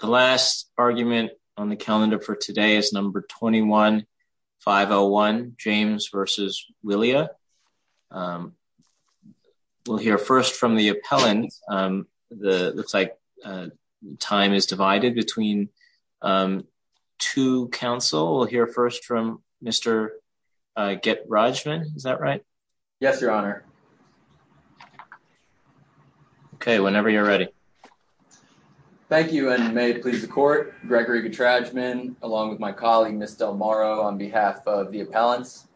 The last argument on the calendar for today is number 21-501, James v. Willia. We'll hear first from the appellant. It looks like time is divided between two counsel. We'll hear first from Mr. Getrajman. Is that right? Yes, Your Honor. Okay, whenever you're ready. Thank you, and may it please the Court, Gregory Getrajman, along with my colleague, Ms. Del Moro, on behalf of the appellants.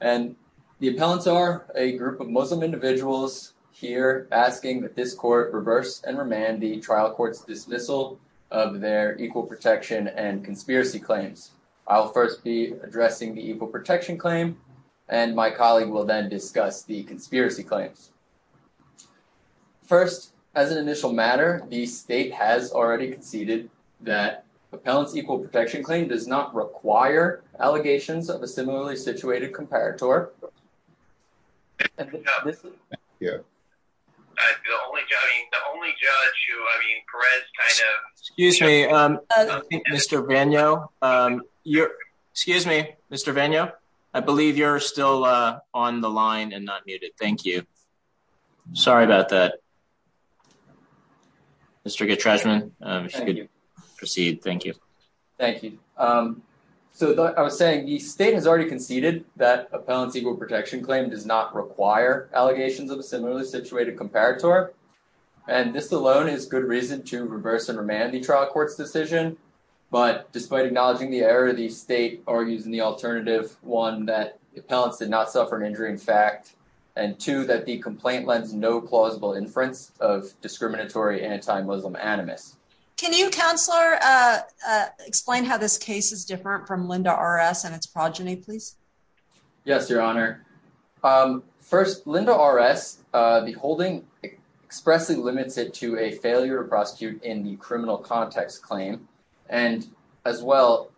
The appellants are a group of Muslim individuals here asking that this Court reverse and remand the trial court's dismissal of their equal protection and conspiracy claims. I'll first address the equal protection claim, and my colleague will then discuss the conspiracy claims. First, as an initial matter, the State has already conceded that the appellant's equal protection claim does not require allegations of a similarly situated comparator. Mr. Getrajman, if you could proceed. Thank you. Thank you. So I was saying the State has already conceded that appellant's equal protection claim does not require allegations of a similarly situated comparator, and this alone is good reason to reverse and remand the trial court's decision. But despite acknowledging the error, the State argues in the alternative, one, that the appellants did not suffer an injury in fact, and two, that the complaint lends no plausible inference of discriminatory anti-Muslim animus. Can you, Counselor, explain how this case is different from Linda R.S. and its progeny, please? Yes, Your Honor. First, Linda R.S., the holding expressly limits it to a failure to prosecute in the criminal context claim, and as well,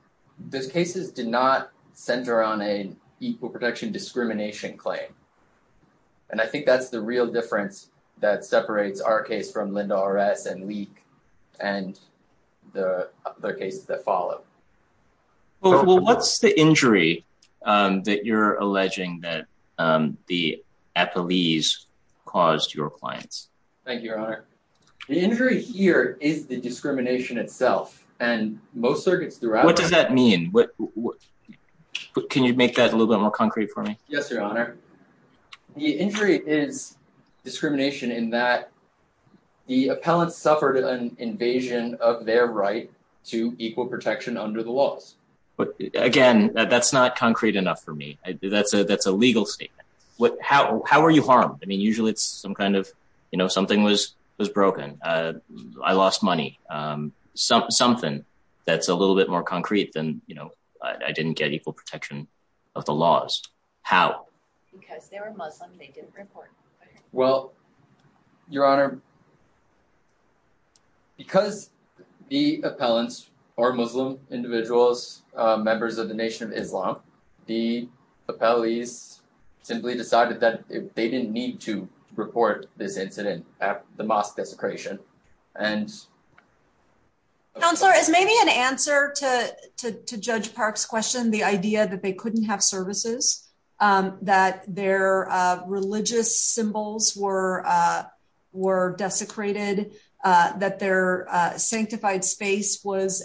those cases did not center on an equal protection discrimination claim. And I think that's the real difference that separates our case from Linda R.S. and Leak and the other cases that follow. Well, what's the injury that you're alleging that the appellees caused your clients? Thank you, Your Honor. The injury here is the discrimination itself, and most circuits throughout... What does that mean? Can you make that a little bit more concrete for me? Yes, Your Honor. The injury is discrimination in that the appellants suffered an invasion of their right to equal protection under the laws. Again, that's not concrete enough for me. That's a legal statement. How were you harmed? I mean, usually it's some kind of, you know, something was broken. I lost money. Something that's a of the laws. How? Because they were Muslim, they didn't report. Well, Your Honor, because the appellants are Muslim individuals, members of the Nation of Islam, the appellees simply decided that they didn't need to report this incident at the mosque desecration. Counselor, is maybe an answer to Judge Park's question, the idea that they couldn't have services, that their religious symbols were desecrated, that their sanctified space was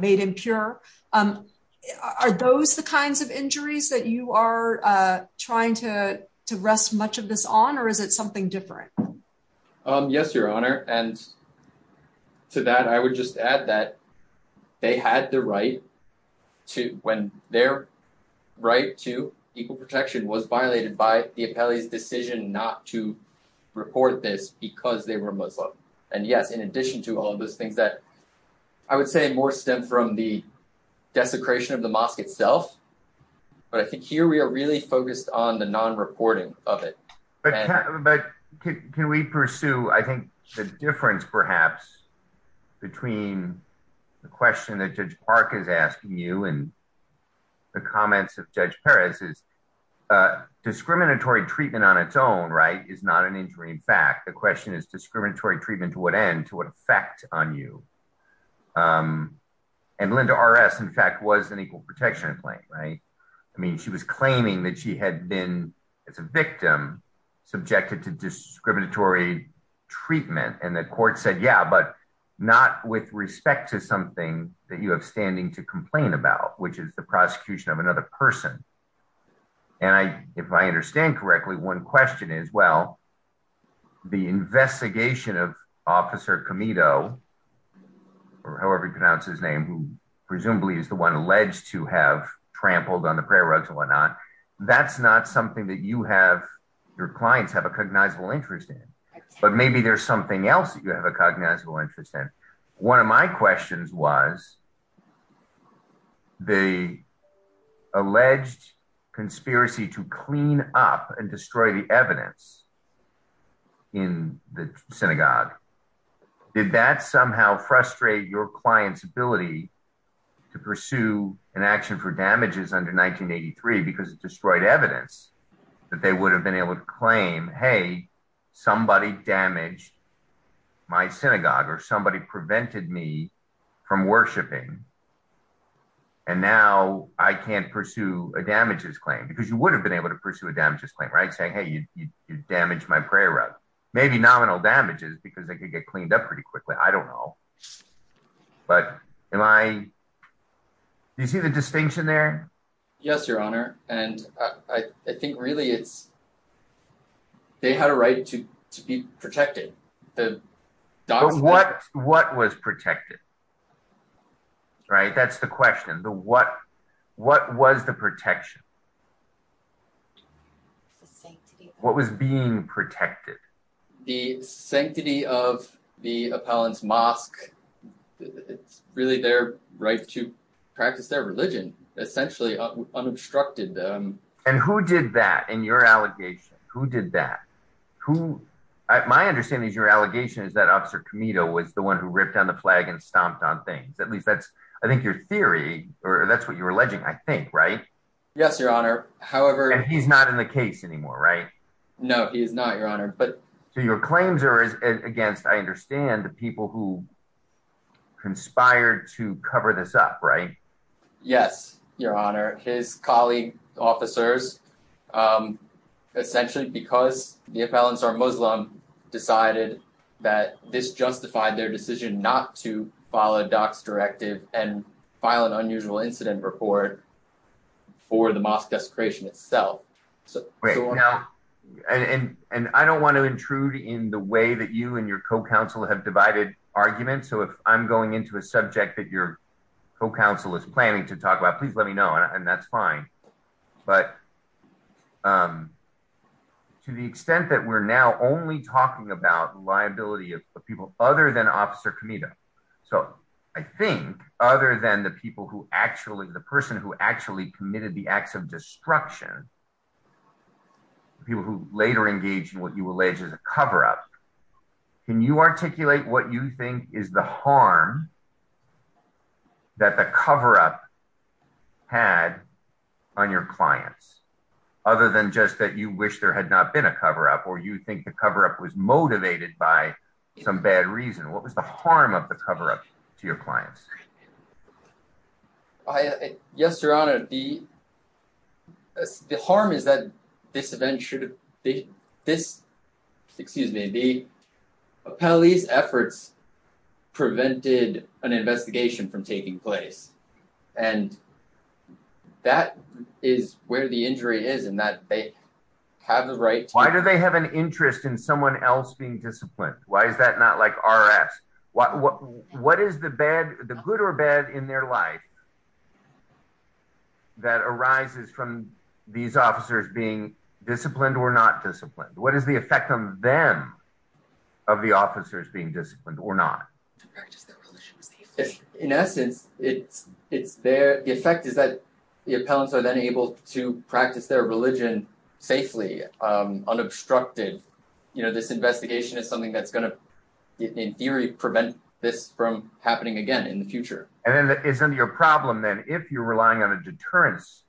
made impure. Are those the kinds of injuries that you are trying to rest much of this on, or is it something different? Yes, Your Honor. And to that, I would just add that they had the right to, when their right to equal protection was violated by the appellee's decision not to report this because they were Muslim. And yes, in addition to all of those things that I would say more stem from the desecration of the mosque itself. But I think here we are really focused on the non-reporting of it. But can we pursue, I think, the difference perhaps between the question that Judge Park is asking you and the comments of Judge Perez is discriminatory treatment on its own, right, is not an injury. In fact, the question is discriminatory treatment to what end, to what effect on you? And Linda RS, in fact, was an equal protection claim, right? I mean, she was claiming that she had been, as a victim, subjected to discriminatory treatment. And the court said, yeah, but not with respect to something that you have standing to complain about, which is the prosecution of another person. And if I understand correctly, one question is, well, the investigation of or however you pronounce his name, who presumably is the one alleged to have trampled on the prayer rugs and whatnot, that's not something that you have, your clients have a cognizable interest in. But maybe there's something else that you have a cognizable interest in. One of my questions was the alleged conspiracy to clean up and destroy the evidence in the synagogue. Did that somehow frustrate your client's ability to pursue an action for damages under 1983 because it destroyed evidence that they would have been able to claim, hey, somebody damaged my synagogue or somebody prevented me from worshiping. And now I can't pursue a damages claim because you would have been able to pursue a damages claim, right? Saying, you damaged my prayer rug, maybe nominal damages because they could get cleaned up pretty quickly. I don't know. But do you see the distinction there? Yes, your honor. And I think really it's they had a right to be protected. What was protected? Right. That's the question. What was the protection? What was being protected? The sanctity of the appellant's mosque. It's really their right to practice their religion, essentially unobstructed them. And who did that in your allegation? Who did that? Who? My understanding is your allegation is that officer Comito was the one who ripped down the flag and stomped on things. At least that's I think your theory or that's what you're Yes, your honor. However, he's not in the case anymore, right? No, he's not, your honor. But so your claims are against, I understand the people who conspired to cover this up, right? Yes, your honor. His colleague officers, essentially because the appellants are Muslim, decided that this justified their decision not to follow DOC's directive and file an unusual incident report for the mosque desecration itself. And I don't want to intrude in the way that you and your co-counsel have divided arguments. So if I'm going into a subject that your co-counsel is planning to talk about, please let me know. And that's fine. But to the extent that we're now only talking about liability of people other than officer Comito. So I think other than the people who actually, the person who actually committed the acts of destruction, people who later engaged in what you allege is a cover-up, can you articulate what you think is the harm that the cover-up had on your clients? Other than just that you wish there had not been a cover-up or you think the cover-up was motivated by some bad reason. What was the cover-up to your clients? Yes, your honor. The harm is that this event should, this, excuse me, the appellee's efforts prevented an investigation from taking place. And that is where the injury is in that they have the right. Why do they have an interest in someone else being disciplined? Why is that not like RS? What is the bad, the good or bad in their life that arises from these officers being disciplined or not disciplined? What is the effect on them of the officers being disciplined or not? In essence, it's there. The effect is that the appellants are then able to practice their religion safely, unobstructed. You know, this investigation is something that's going to, in theory, prevent this from happening again in the future. And then isn't your problem then, if you're relying on a deterrence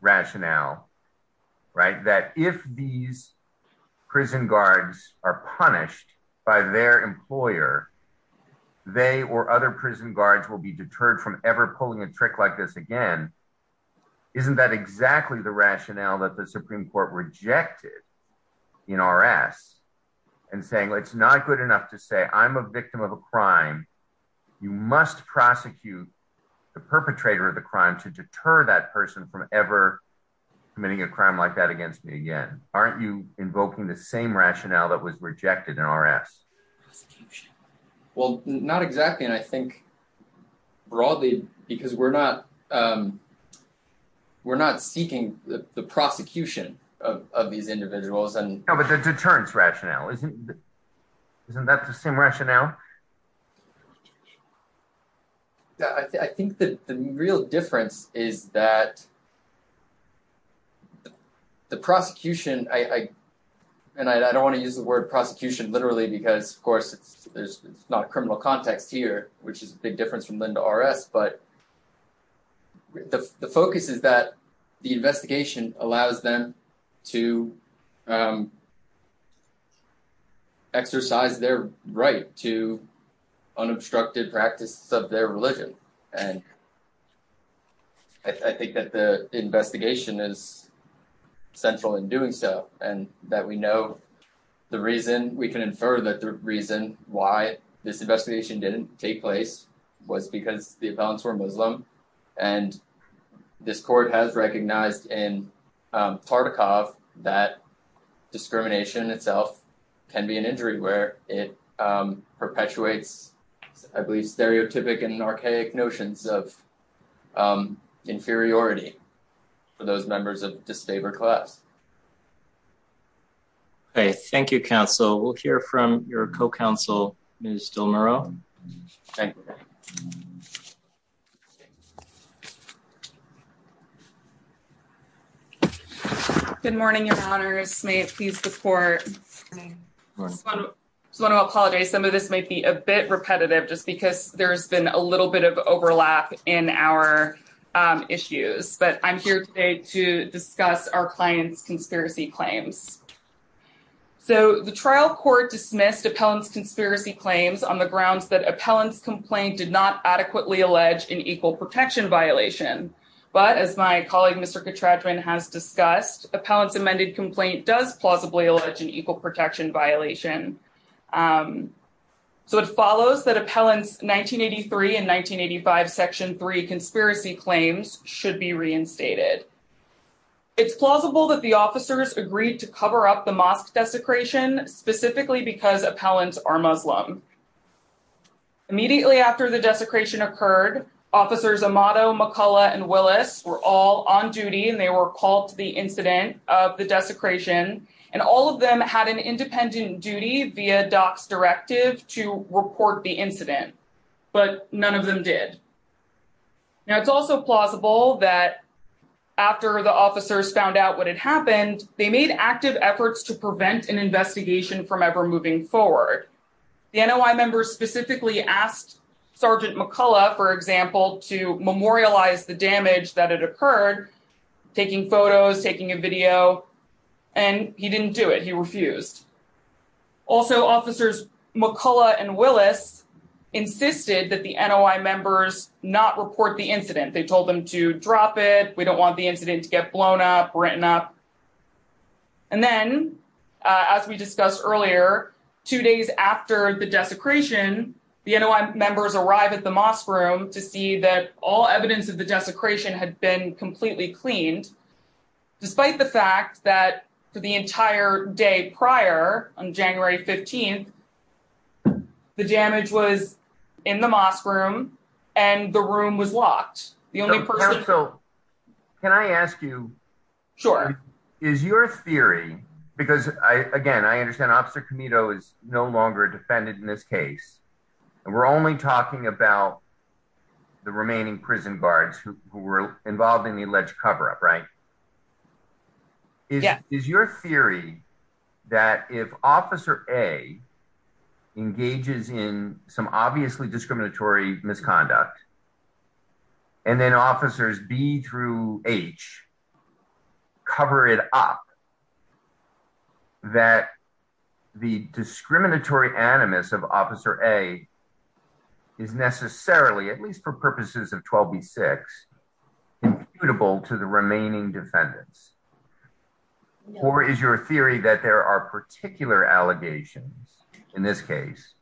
rationale, right, that if these prison guards are punished by their employer, they or other prison guards will be deterred from ever pulling a trick like this again. Isn't that exactly the rationale that the Supreme Court rejected in RS and saying, well, it's not good enough to say, I'm a victim of a crime. You must prosecute the perpetrator of the crime to deter that person from ever committing a crime like that against me again. Aren't you invoking the same rationale that was rejected in RS? Well, not exactly. And I think broadly, because we're not, we're not seeking the prosecution of these individuals. No, but the deterrence rationale, isn't that the same rationale? I think that the real difference is that the prosecution, and I don't want to use the word prosecution literally because, of course, there's not a criminal context here, which is a big difference from then to RS, but the focus is that the investigation allows them to exercise their right to unobstructed practices of their religion. And I think that the investigation is central in doing so, and that we know the reason we can infer that the reason why this investigation didn't take place was because the appellants were Muslim. And this court has recognized in Tartakov that discrimination itself can be an injury where it perpetuates, I believe, stereotypic and archaic notions of inferiority for those members of disabled class. Okay, thank you, counsel. We'll hear from your co-counsel, Ms. Del Muro. Good morning, your honors. May it please the court. I just want to apologize. Some of this might be a bit repetitive, just because there's been a little bit of overlap in our issues, but I'm here today to discuss our client's conspiracy claims. So the trial court dismissed appellant's conspiracy claims on the grounds that appellant's complaint did not adequately allege an equal protection violation. But as my colleague, Mr. Katradjman, has discussed, appellant's amended complaint does plausibly allege an equal protection violation. So it follows that appellant's 1983 and 1985 section 3 conspiracy claims should be reinstated. It's plausible that the officers agreed to cover up the mosque desecration, specifically because appellants are Muslim. Immediately after the desecration occurred, officers Amato, McCullough, and Willis were all on duty, and they were called to the incident of the desecration. And all of them had an independent duty via DOCS directive to report the incident, but none of them did. Now, it's also plausible that after the officers found out what had happened, they made active efforts to prevent an investigation from ever moving forward. The NOI members specifically asked Sergeant McCullough, for example, to memorialize the damage that had occurred, taking photos, taking a video, and he didn't do it. He refused. Also, officers McCullough and Willis insisted that the NOI members not report the incident. They told them to drop it. We don't want the incident to get blown up, written up. And then, as we discussed earlier, two days after the desecration, the NOI members arrive at the mosque room to see that all evidence of the desecration had been completely cleaned, despite the fact that for the entire day prior, on January 15th, the damage was in the mosque room, and the room was locked. The only person... So, can I ask you? Sure. Is your theory, because, again, I understand Officer Comito is no longer defended in this case, and we're only talking about the remaining prison guards who were involved in the alleged cover-up, right? Is your theory that if Officer A engages in some obviously discriminatory misconduct, and then Officers B through H cover it up, that the discriminatory animus of Officer A is necessarily, at least for purposes of 12b-6, imputable to the remaining defendants? Or is your theory that there are particular allegations, in this case,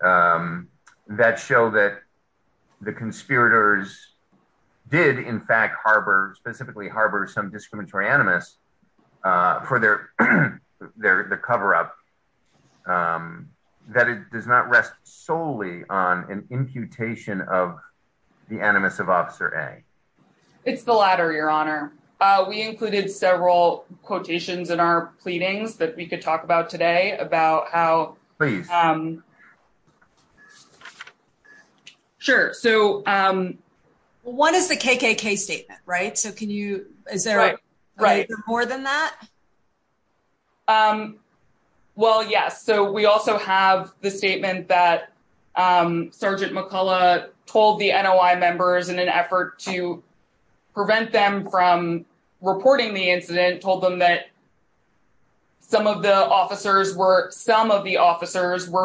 that show that the conspirators did, in fact, harbor, specifically harbor, some discriminatory animus for their cover-up, that it does not rest solely on an imputation of the animus of Officer A? It's the latter, Your Honor. We included several quotations in our pleadings that we could talk about today about how... Please. Sure. So... One is the KKK statement, right? So, can you... Is there more than that? Well, yes. So, we also have the statement that Sergeant McCullough told the NOI members in an effort to prevent them from reporting the incident, told them that some of the officers were...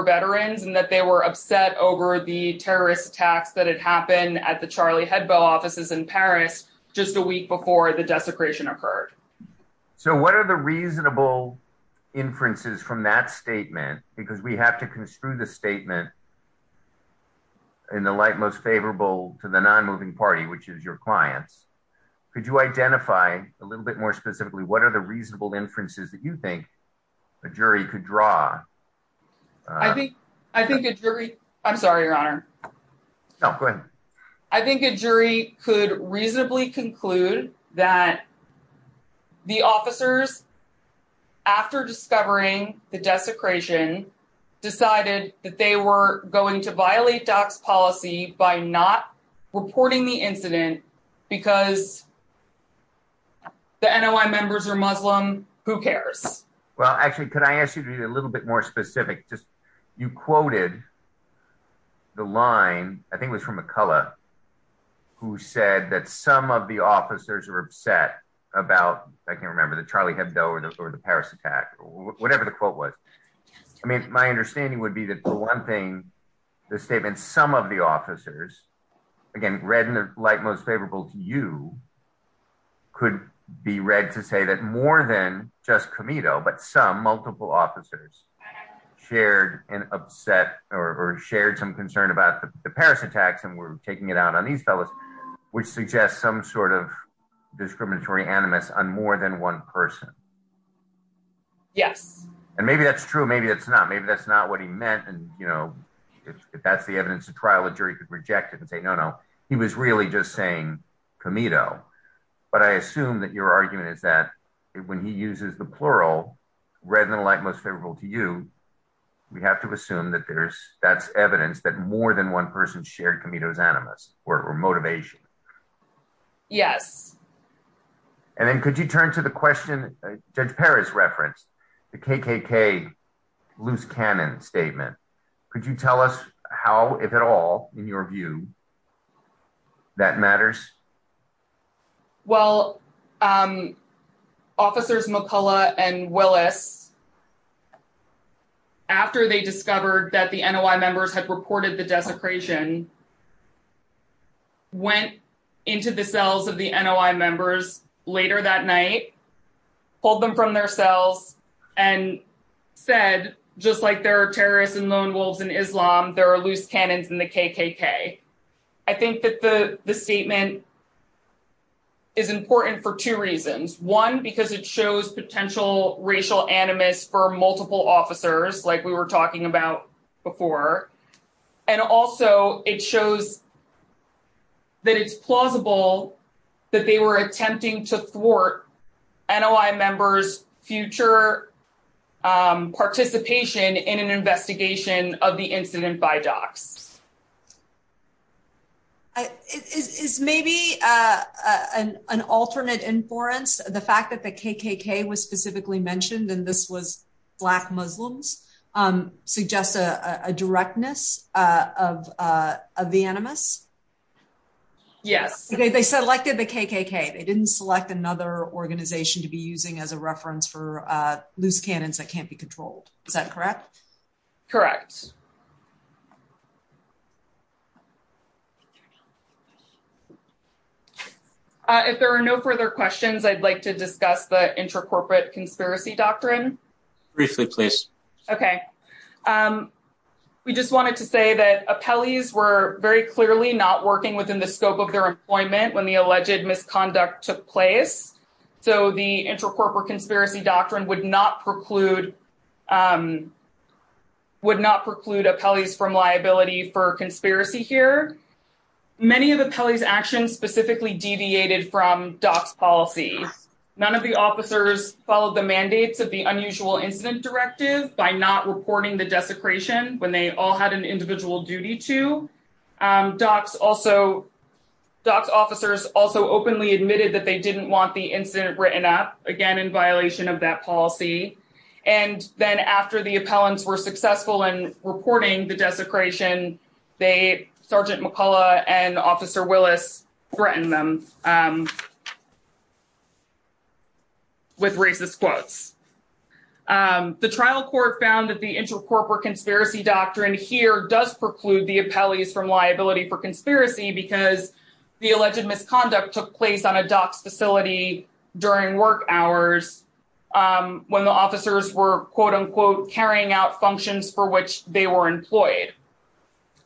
veterans, and that they were upset over the terrorist attacks that had happened at the Charlie Hedbell offices in Paris, just a week before the desecration occurred. So, what are the reasonable inferences from that statement? Because we have to construe the statement in the light most favorable to the non-moving party, which is your clients. Could you identify, a little bit more specifically, what are the reasonable inferences that you think a jury could draw? I think a jury... I'm sorry, Your Honor. No, go ahead. I think a jury could reasonably conclude that the officers, after discovering the desecration, decided that they were going to violate DOC's policy by not reporting the incident because the NOI members are Muslim. Who cares? Well, actually, could I ask you to be a little bit more specific? Just, you quoted the line, I think it was from McCullough, who said that some of the officers were upset about, I can't remember, the Charlie Hebdell or the Paris attack, or whatever the quote was. I mean, my understanding would be that the one thing, the statement, some of the officers, again, read in the light most favorable to you, could be read to say that more than just Comito, but some, multiple officers, shared some concern about the Paris attacks, and were taking it out on these fellows, which suggests some sort of discriminatory animus on more than one person. Yes. And maybe that's true, maybe that's not. Maybe that's not what he meant, and if that's the evidence of trial, a jury could reject it and say, no, no, he was really just saying Comito. But I assume that your argument is that when he uses the plural, read in the light most favorable to you, we have to assume that there's, that's evidence that more than one person shared Comito's animus, or motivation. Yes. And then could you turn to the question Judge Paris referenced, the KKK loose cannon statement, could you tell us how, if at all, in your view, that matters? Well, officers McCullough and Willis, after they discovered that the NOI members had reported the desecration, went into the cells of the NOI members later that night, pulled them from their cells, and said, just like there are terrorists and lone wolves in Islam, there are loose cannons in the KKK. I think that the statement is important for two reasons. One, because it shows potential racial animus for multiple officers, like we were talking about before. And also, it shows that it's plausible that they were attempting to thwart NOI members' future participation in an investigation of the incident by DOCS. Is maybe an alternate inference, the fact that the KKK was specifically mentioned, and this was Black Muslims, suggests a directness of the animus? Yes. They selected the KKK, they didn't select another organization to be using as a reference for loose cannons that can't be controlled. Is that correct? Correct. Thank you. If there are no further questions, I'd like to discuss the intracorporate conspiracy doctrine. Briefly, please. Okay. We just wanted to say that appellees were very clearly not working within the scope of their employment when the alleged misconduct took place. So, the intracorporate conspiracy doctrine would not preclude appellees from liability for conspiracy here. Many of the appellees' actions specifically deviated from DOCS policy. None of the officers followed the mandates of the unusual incident directive by not reporting the desecration when they all had an individual duty to. DOCS officers also openly admitted that they didn't want the policy. Then, after the appellants were successful in reporting the desecration, Sergeant McCullough and Officer Willis threatened them with racist quotes. The trial court found that the intracorporate conspiracy doctrine here does preclude the appellees from liability for conspiracy because the alleged misconduct took place on a DOCS facility during work hours when the officers were, quote-unquote, carrying out functions for which they were employed.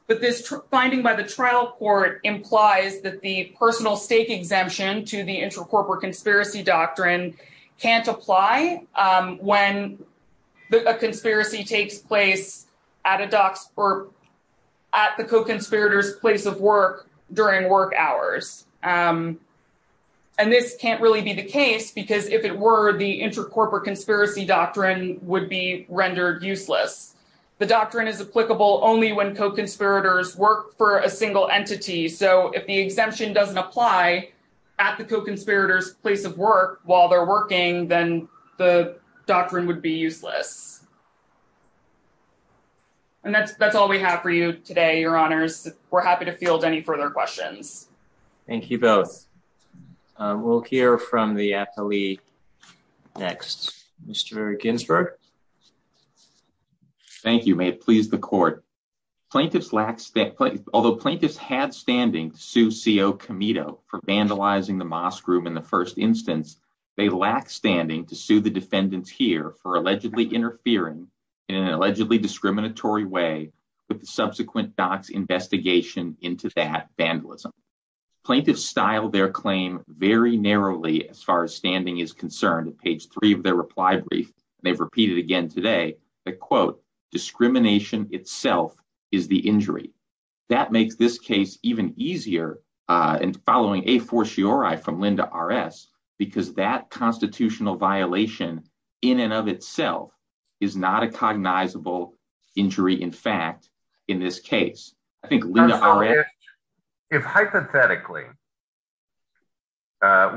But this finding by the trial court implies that the personal stake exemption to the intracorporate conspiracy doctrine can't apply when a conspiracy takes place at the co-conspirator's place of work during work hours. And this can't really be the case because if it were, the intracorporate conspiracy doctrine would be rendered useless. The doctrine is applicable only when co-conspirators work for a single entity. So, if the exemption doesn't apply at the co-conspirator's place of work while they're at work, it can't be rendered useless. And that's all we have for you today, Your Honors. We're happy to field any further questions. Thank you both. We'll hear from the appellee next. Mr. Ginsburg. Thank you. May it please the court. Although plaintiffs had standing to sue C.O. Camito for vandalizing the mosque room in the first instance, they lack standing to sue the defendants here for allegedly interfering in an allegedly discriminatory way with the subsequent doc's investigation into that vandalism. Plaintiffs styled their claim very narrowly as far as standing is concerned. At page three of their reply brief, they've repeated again today that, quote, discrimination itself is the injury. That makes this case even easier in following from Linda R.S. because that constitutional violation in and of itself is not a cognizable injury in fact in this case. I think Linda R.S. If hypothetically,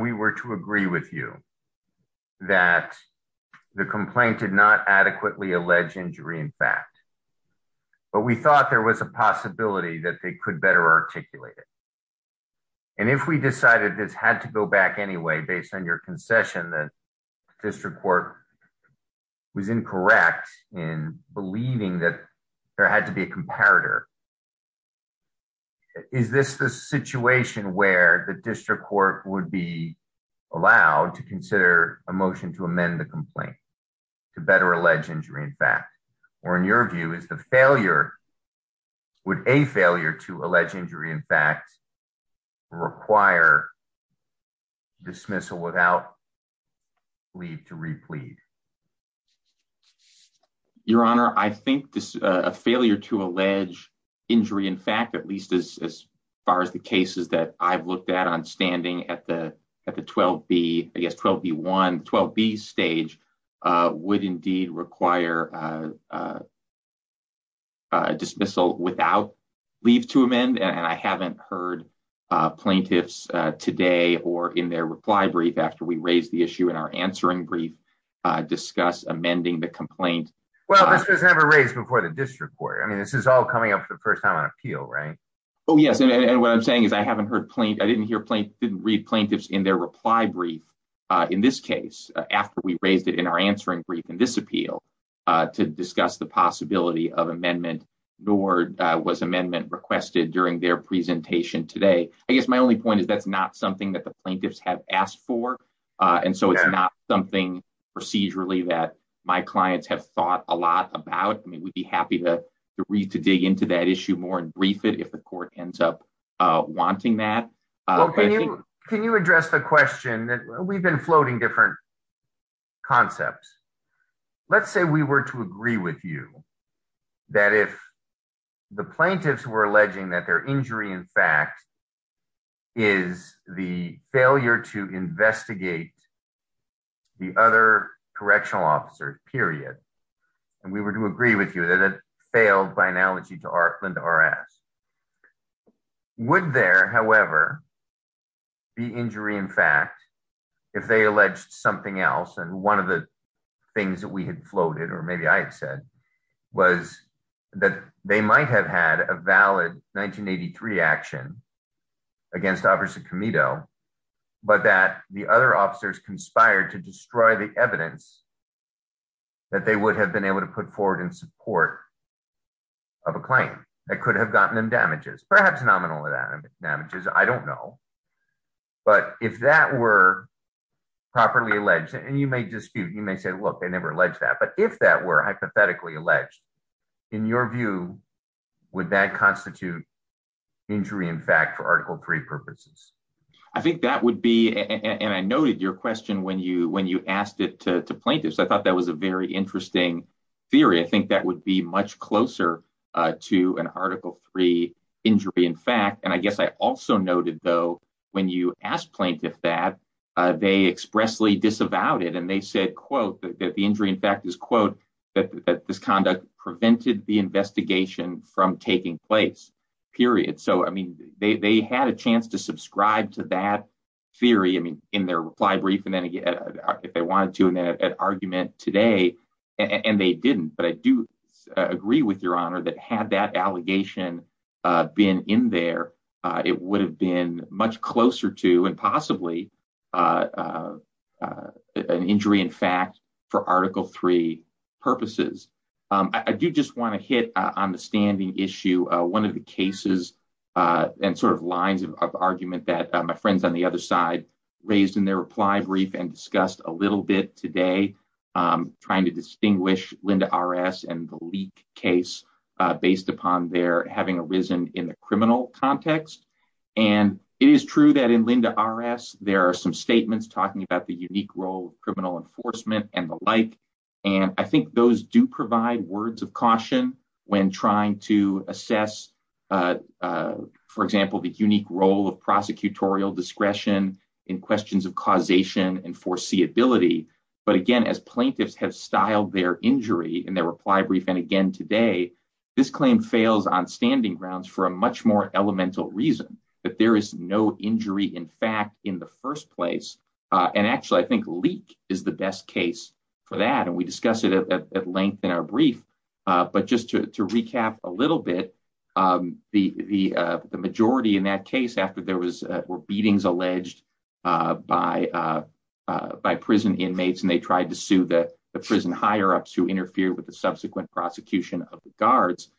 we were to agree with you that the complaint did not adequately allege injury in fact, but we thought there was a possibility that they could better articulate it. And if we decided this had to go back anyway, based on your concession that district court was incorrect in believing that there had to be a comparator. Is this the situation where the district court would be allowed to consider a motion to amend the complaint to better allege injury in fact, or in your view, is the failure would a failure to allege injury in fact, require dismissal without leave to replete? Your Honor, I think this failure to allege injury in fact, at least as far as the cases that I've dismissal without leave to amend. And I haven't heard plaintiffs today or in their reply brief after we raised the issue in our answering brief, discuss amending the complaint. Well, this was never raised before the district court. I mean, this is all coming up for the first time on appeal, right? Oh, yes. And what I'm saying is, I haven't heard plaint, I didn't hear plaint, didn't read plaintiffs in their reply brief. In this case, after we raised it in our answering brief in this appeal, to discuss the possibility of amendment, nor was amendment requested during their presentation today. I guess my only point is that's not something that the plaintiffs have asked for. And so it's not something procedurally that my clients have thought a lot about. I mean, we'd be happy to read, to dig into that issue more and brief it if the court ends up wanting that. Can you address the question that we've been floating different concepts? Let's say we were to agree with you that if the plaintiffs were alleging that their injury in fact is the failure to investigate the other correctional officers, period. And we were to agree with you that it failed by analogy to Artland R.S. Would there, however, be injury in fact, if they alleged something else and one of the things that we had floated, or maybe I had said, was that they might have had a valid 1983 action against Officer Comito, but that the other officers conspired to destroy the evidence that they would have been able to put forward in support of a claim that could have gotten them damages, perhaps nominal damages, I don't know. But if that were properly alleged, and you may dispute, you may say, look, they never alleged that. But if that were hypothetically alleged, in your view, would that constitute injury in fact for Article 3 purposes? I think that would be, and I noted your question when you asked it to closer to an Article 3 injury in fact. And I guess I also noted though, when you asked plaintiff that, they expressly disavowed it and they said, quote, that the injury in fact is, quote, that this conduct prevented the investigation from taking place, period. So, I mean, they had a chance to subscribe to that theory, I mean, in their reply brief, and then again, if they wanted an argument today, and they didn't, but I do agree with your honor that had that allegation been in there, it would have been much closer to and possibly an injury in fact for Article 3 purposes. I do just want to hit on the standing issue, one of the cases and sort of lines of argument that my friends on the other side raised in their reply brief and discussed a little bit today, trying to distinguish Linda RS and the leak case based upon their having arisen in the criminal context. And it is true that in Linda RS, there are some statements talking about the unique role of criminal enforcement and the like. And I think those do provide words of caution when trying to assess, for example, the unique role of prosecutorial discretion in questions of causation and foreseeability. But again, as plaintiffs have styled their injury in their reply brief, and again, today, this claim fails on standing grounds for a much more elemental reason that there is no injury in fact, in the first place. And actually, I think leak is the best case for that. And we discussed it at length in our brief. But just to recap a little bit, the majority in case after there were beatings alleged by prison inmates, and they tried to sue the prison higher ups who interfered with the subsequent prosecution of the guards,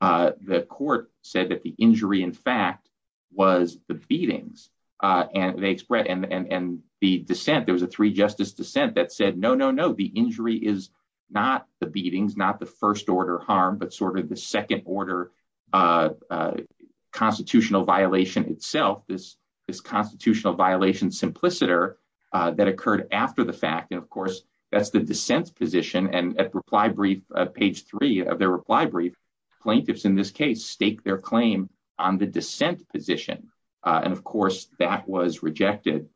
the court said that the injury, in fact, was the beatings. And the dissent, there was a three justice dissent that said, no, no, no, the injury is not the beatings, not the first order harm, but sort of the second order a constitutional violation itself, this constitutional violation simpliciter that occurred after the fact. And of course, that's the dissent position. And at reply brief, page three of their reply brief, plaintiffs in this case stake their claim on the dissent position. And of course, that was rejected.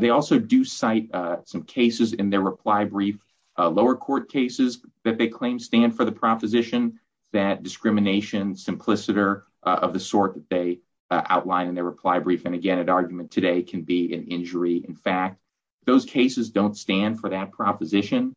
They also do cite some cases in their reply brief, lower court cases that they claim stand for the proposition that discrimination simpliciter of the sort that they outline in their reply brief. And again, an argument today can be an injury. In fact, those cases don't stand for that proposition.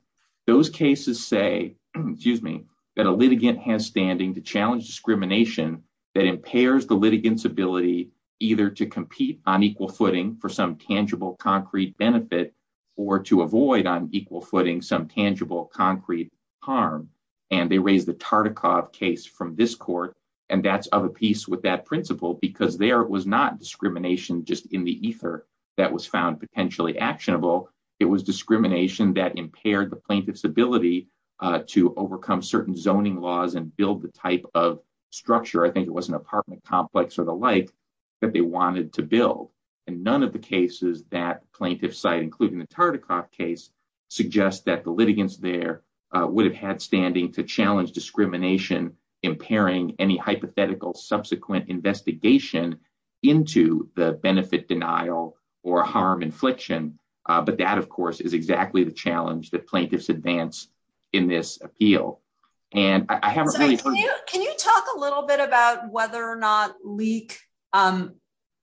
Those cases say, excuse me, that a litigant has standing to challenge discrimination that impairs the litigants ability either to compete on equal footing for some tangible concrete benefit, or to avoid on footing some tangible concrete harm. And they raised the Tartikoff case from this court. And that's of a piece with that principle, because there was not discrimination just in the ether that was found potentially actionable. It was discrimination that impaired the plaintiff's ability to overcome certain zoning laws and build the type of structure. I think it was an apartment complex or the like that they wanted to build. And none of the cases that plaintiff side, including the Tartikoff case, suggest that the litigants there would have had standing to challenge discrimination, impairing any hypothetical subsequent investigation into the benefit denial or harm infliction. But that of course, is exactly the challenge that plaintiffs advance in this appeal. And I haven't- Can you talk a little bit about whether or not LEAK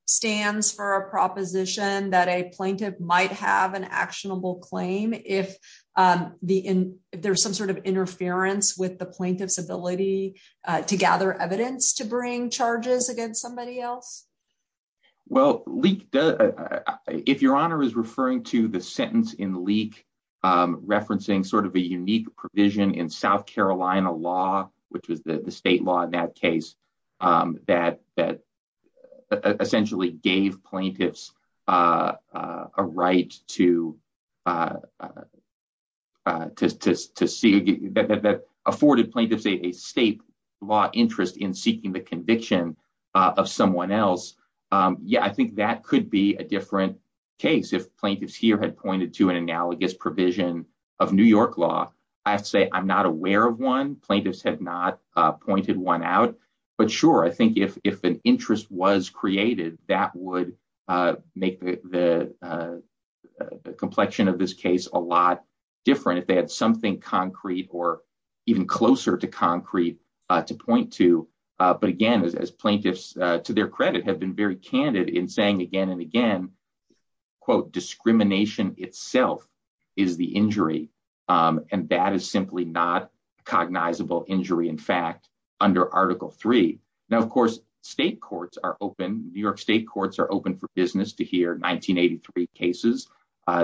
stands for a proposition that a plaintiff might have an actionable claim if there's some sort of interference with the plaintiff's ability to gather evidence to bring charges against somebody else? Well, if your honor is referring to the sentence in LEAK, referencing sort of a unique provision in South Carolina law, which was the state law in that case, that essentially gave plaintiffs a right to see- that afforded plaintiffs a state law interest in seeking the conviction of someone else. Yeah, I think that could be a different case if plaintiffs here had pointed to an analogous provision of New York law. I have to say, I'm not aware of one. Plaintiffs have not pointed one out. But sure, I think if an interest was created, that would make the complexion of this case a lot different if they had something concrete or even closer to concrete to point to. But again, as plaintiffs, to their credit, have been very candid in saying again and in fact, under Article 3. Now, of course, state courts are open. New York state courts are open for business to hear 1983 cases.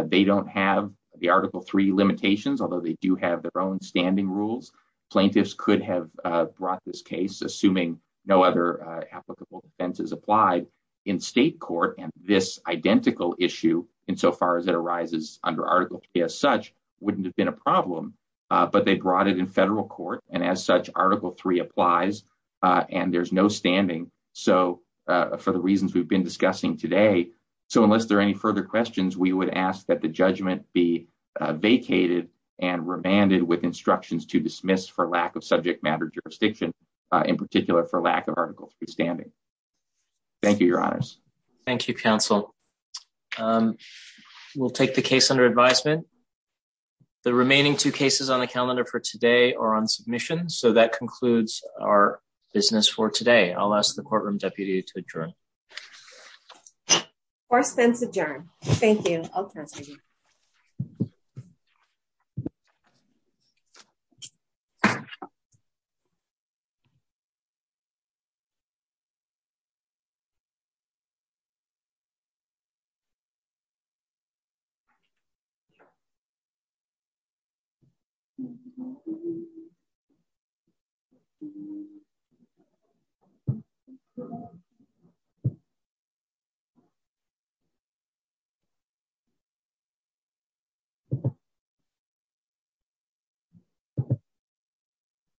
They don't have the Article 3 limitations, although they do have their own standing rules. Plaintiffs could have brought this case, assuming no other applicable defense is applied in state court. And this identical issue, insofar as it arises under Article 3 as such, wouldn't have been a problem. But they brought it in federal court, and as such, Article 3 applies, and there's no standing for the reasons we've been discussing today. So unless there are any further questions, we would ask that the judgment be vacated and remanded with instructions to dismiss for lack of subject matter jurisdiction, in particular for lack of standing. Thank you, Your Honors. Thank you, counsel. We'll take the case under advisement. The remaining two cases on the calendar for today are on submission. So that concludes our business for today. I'll ask the courtroom deputy to adjourn. Court is adjourned. Thank you.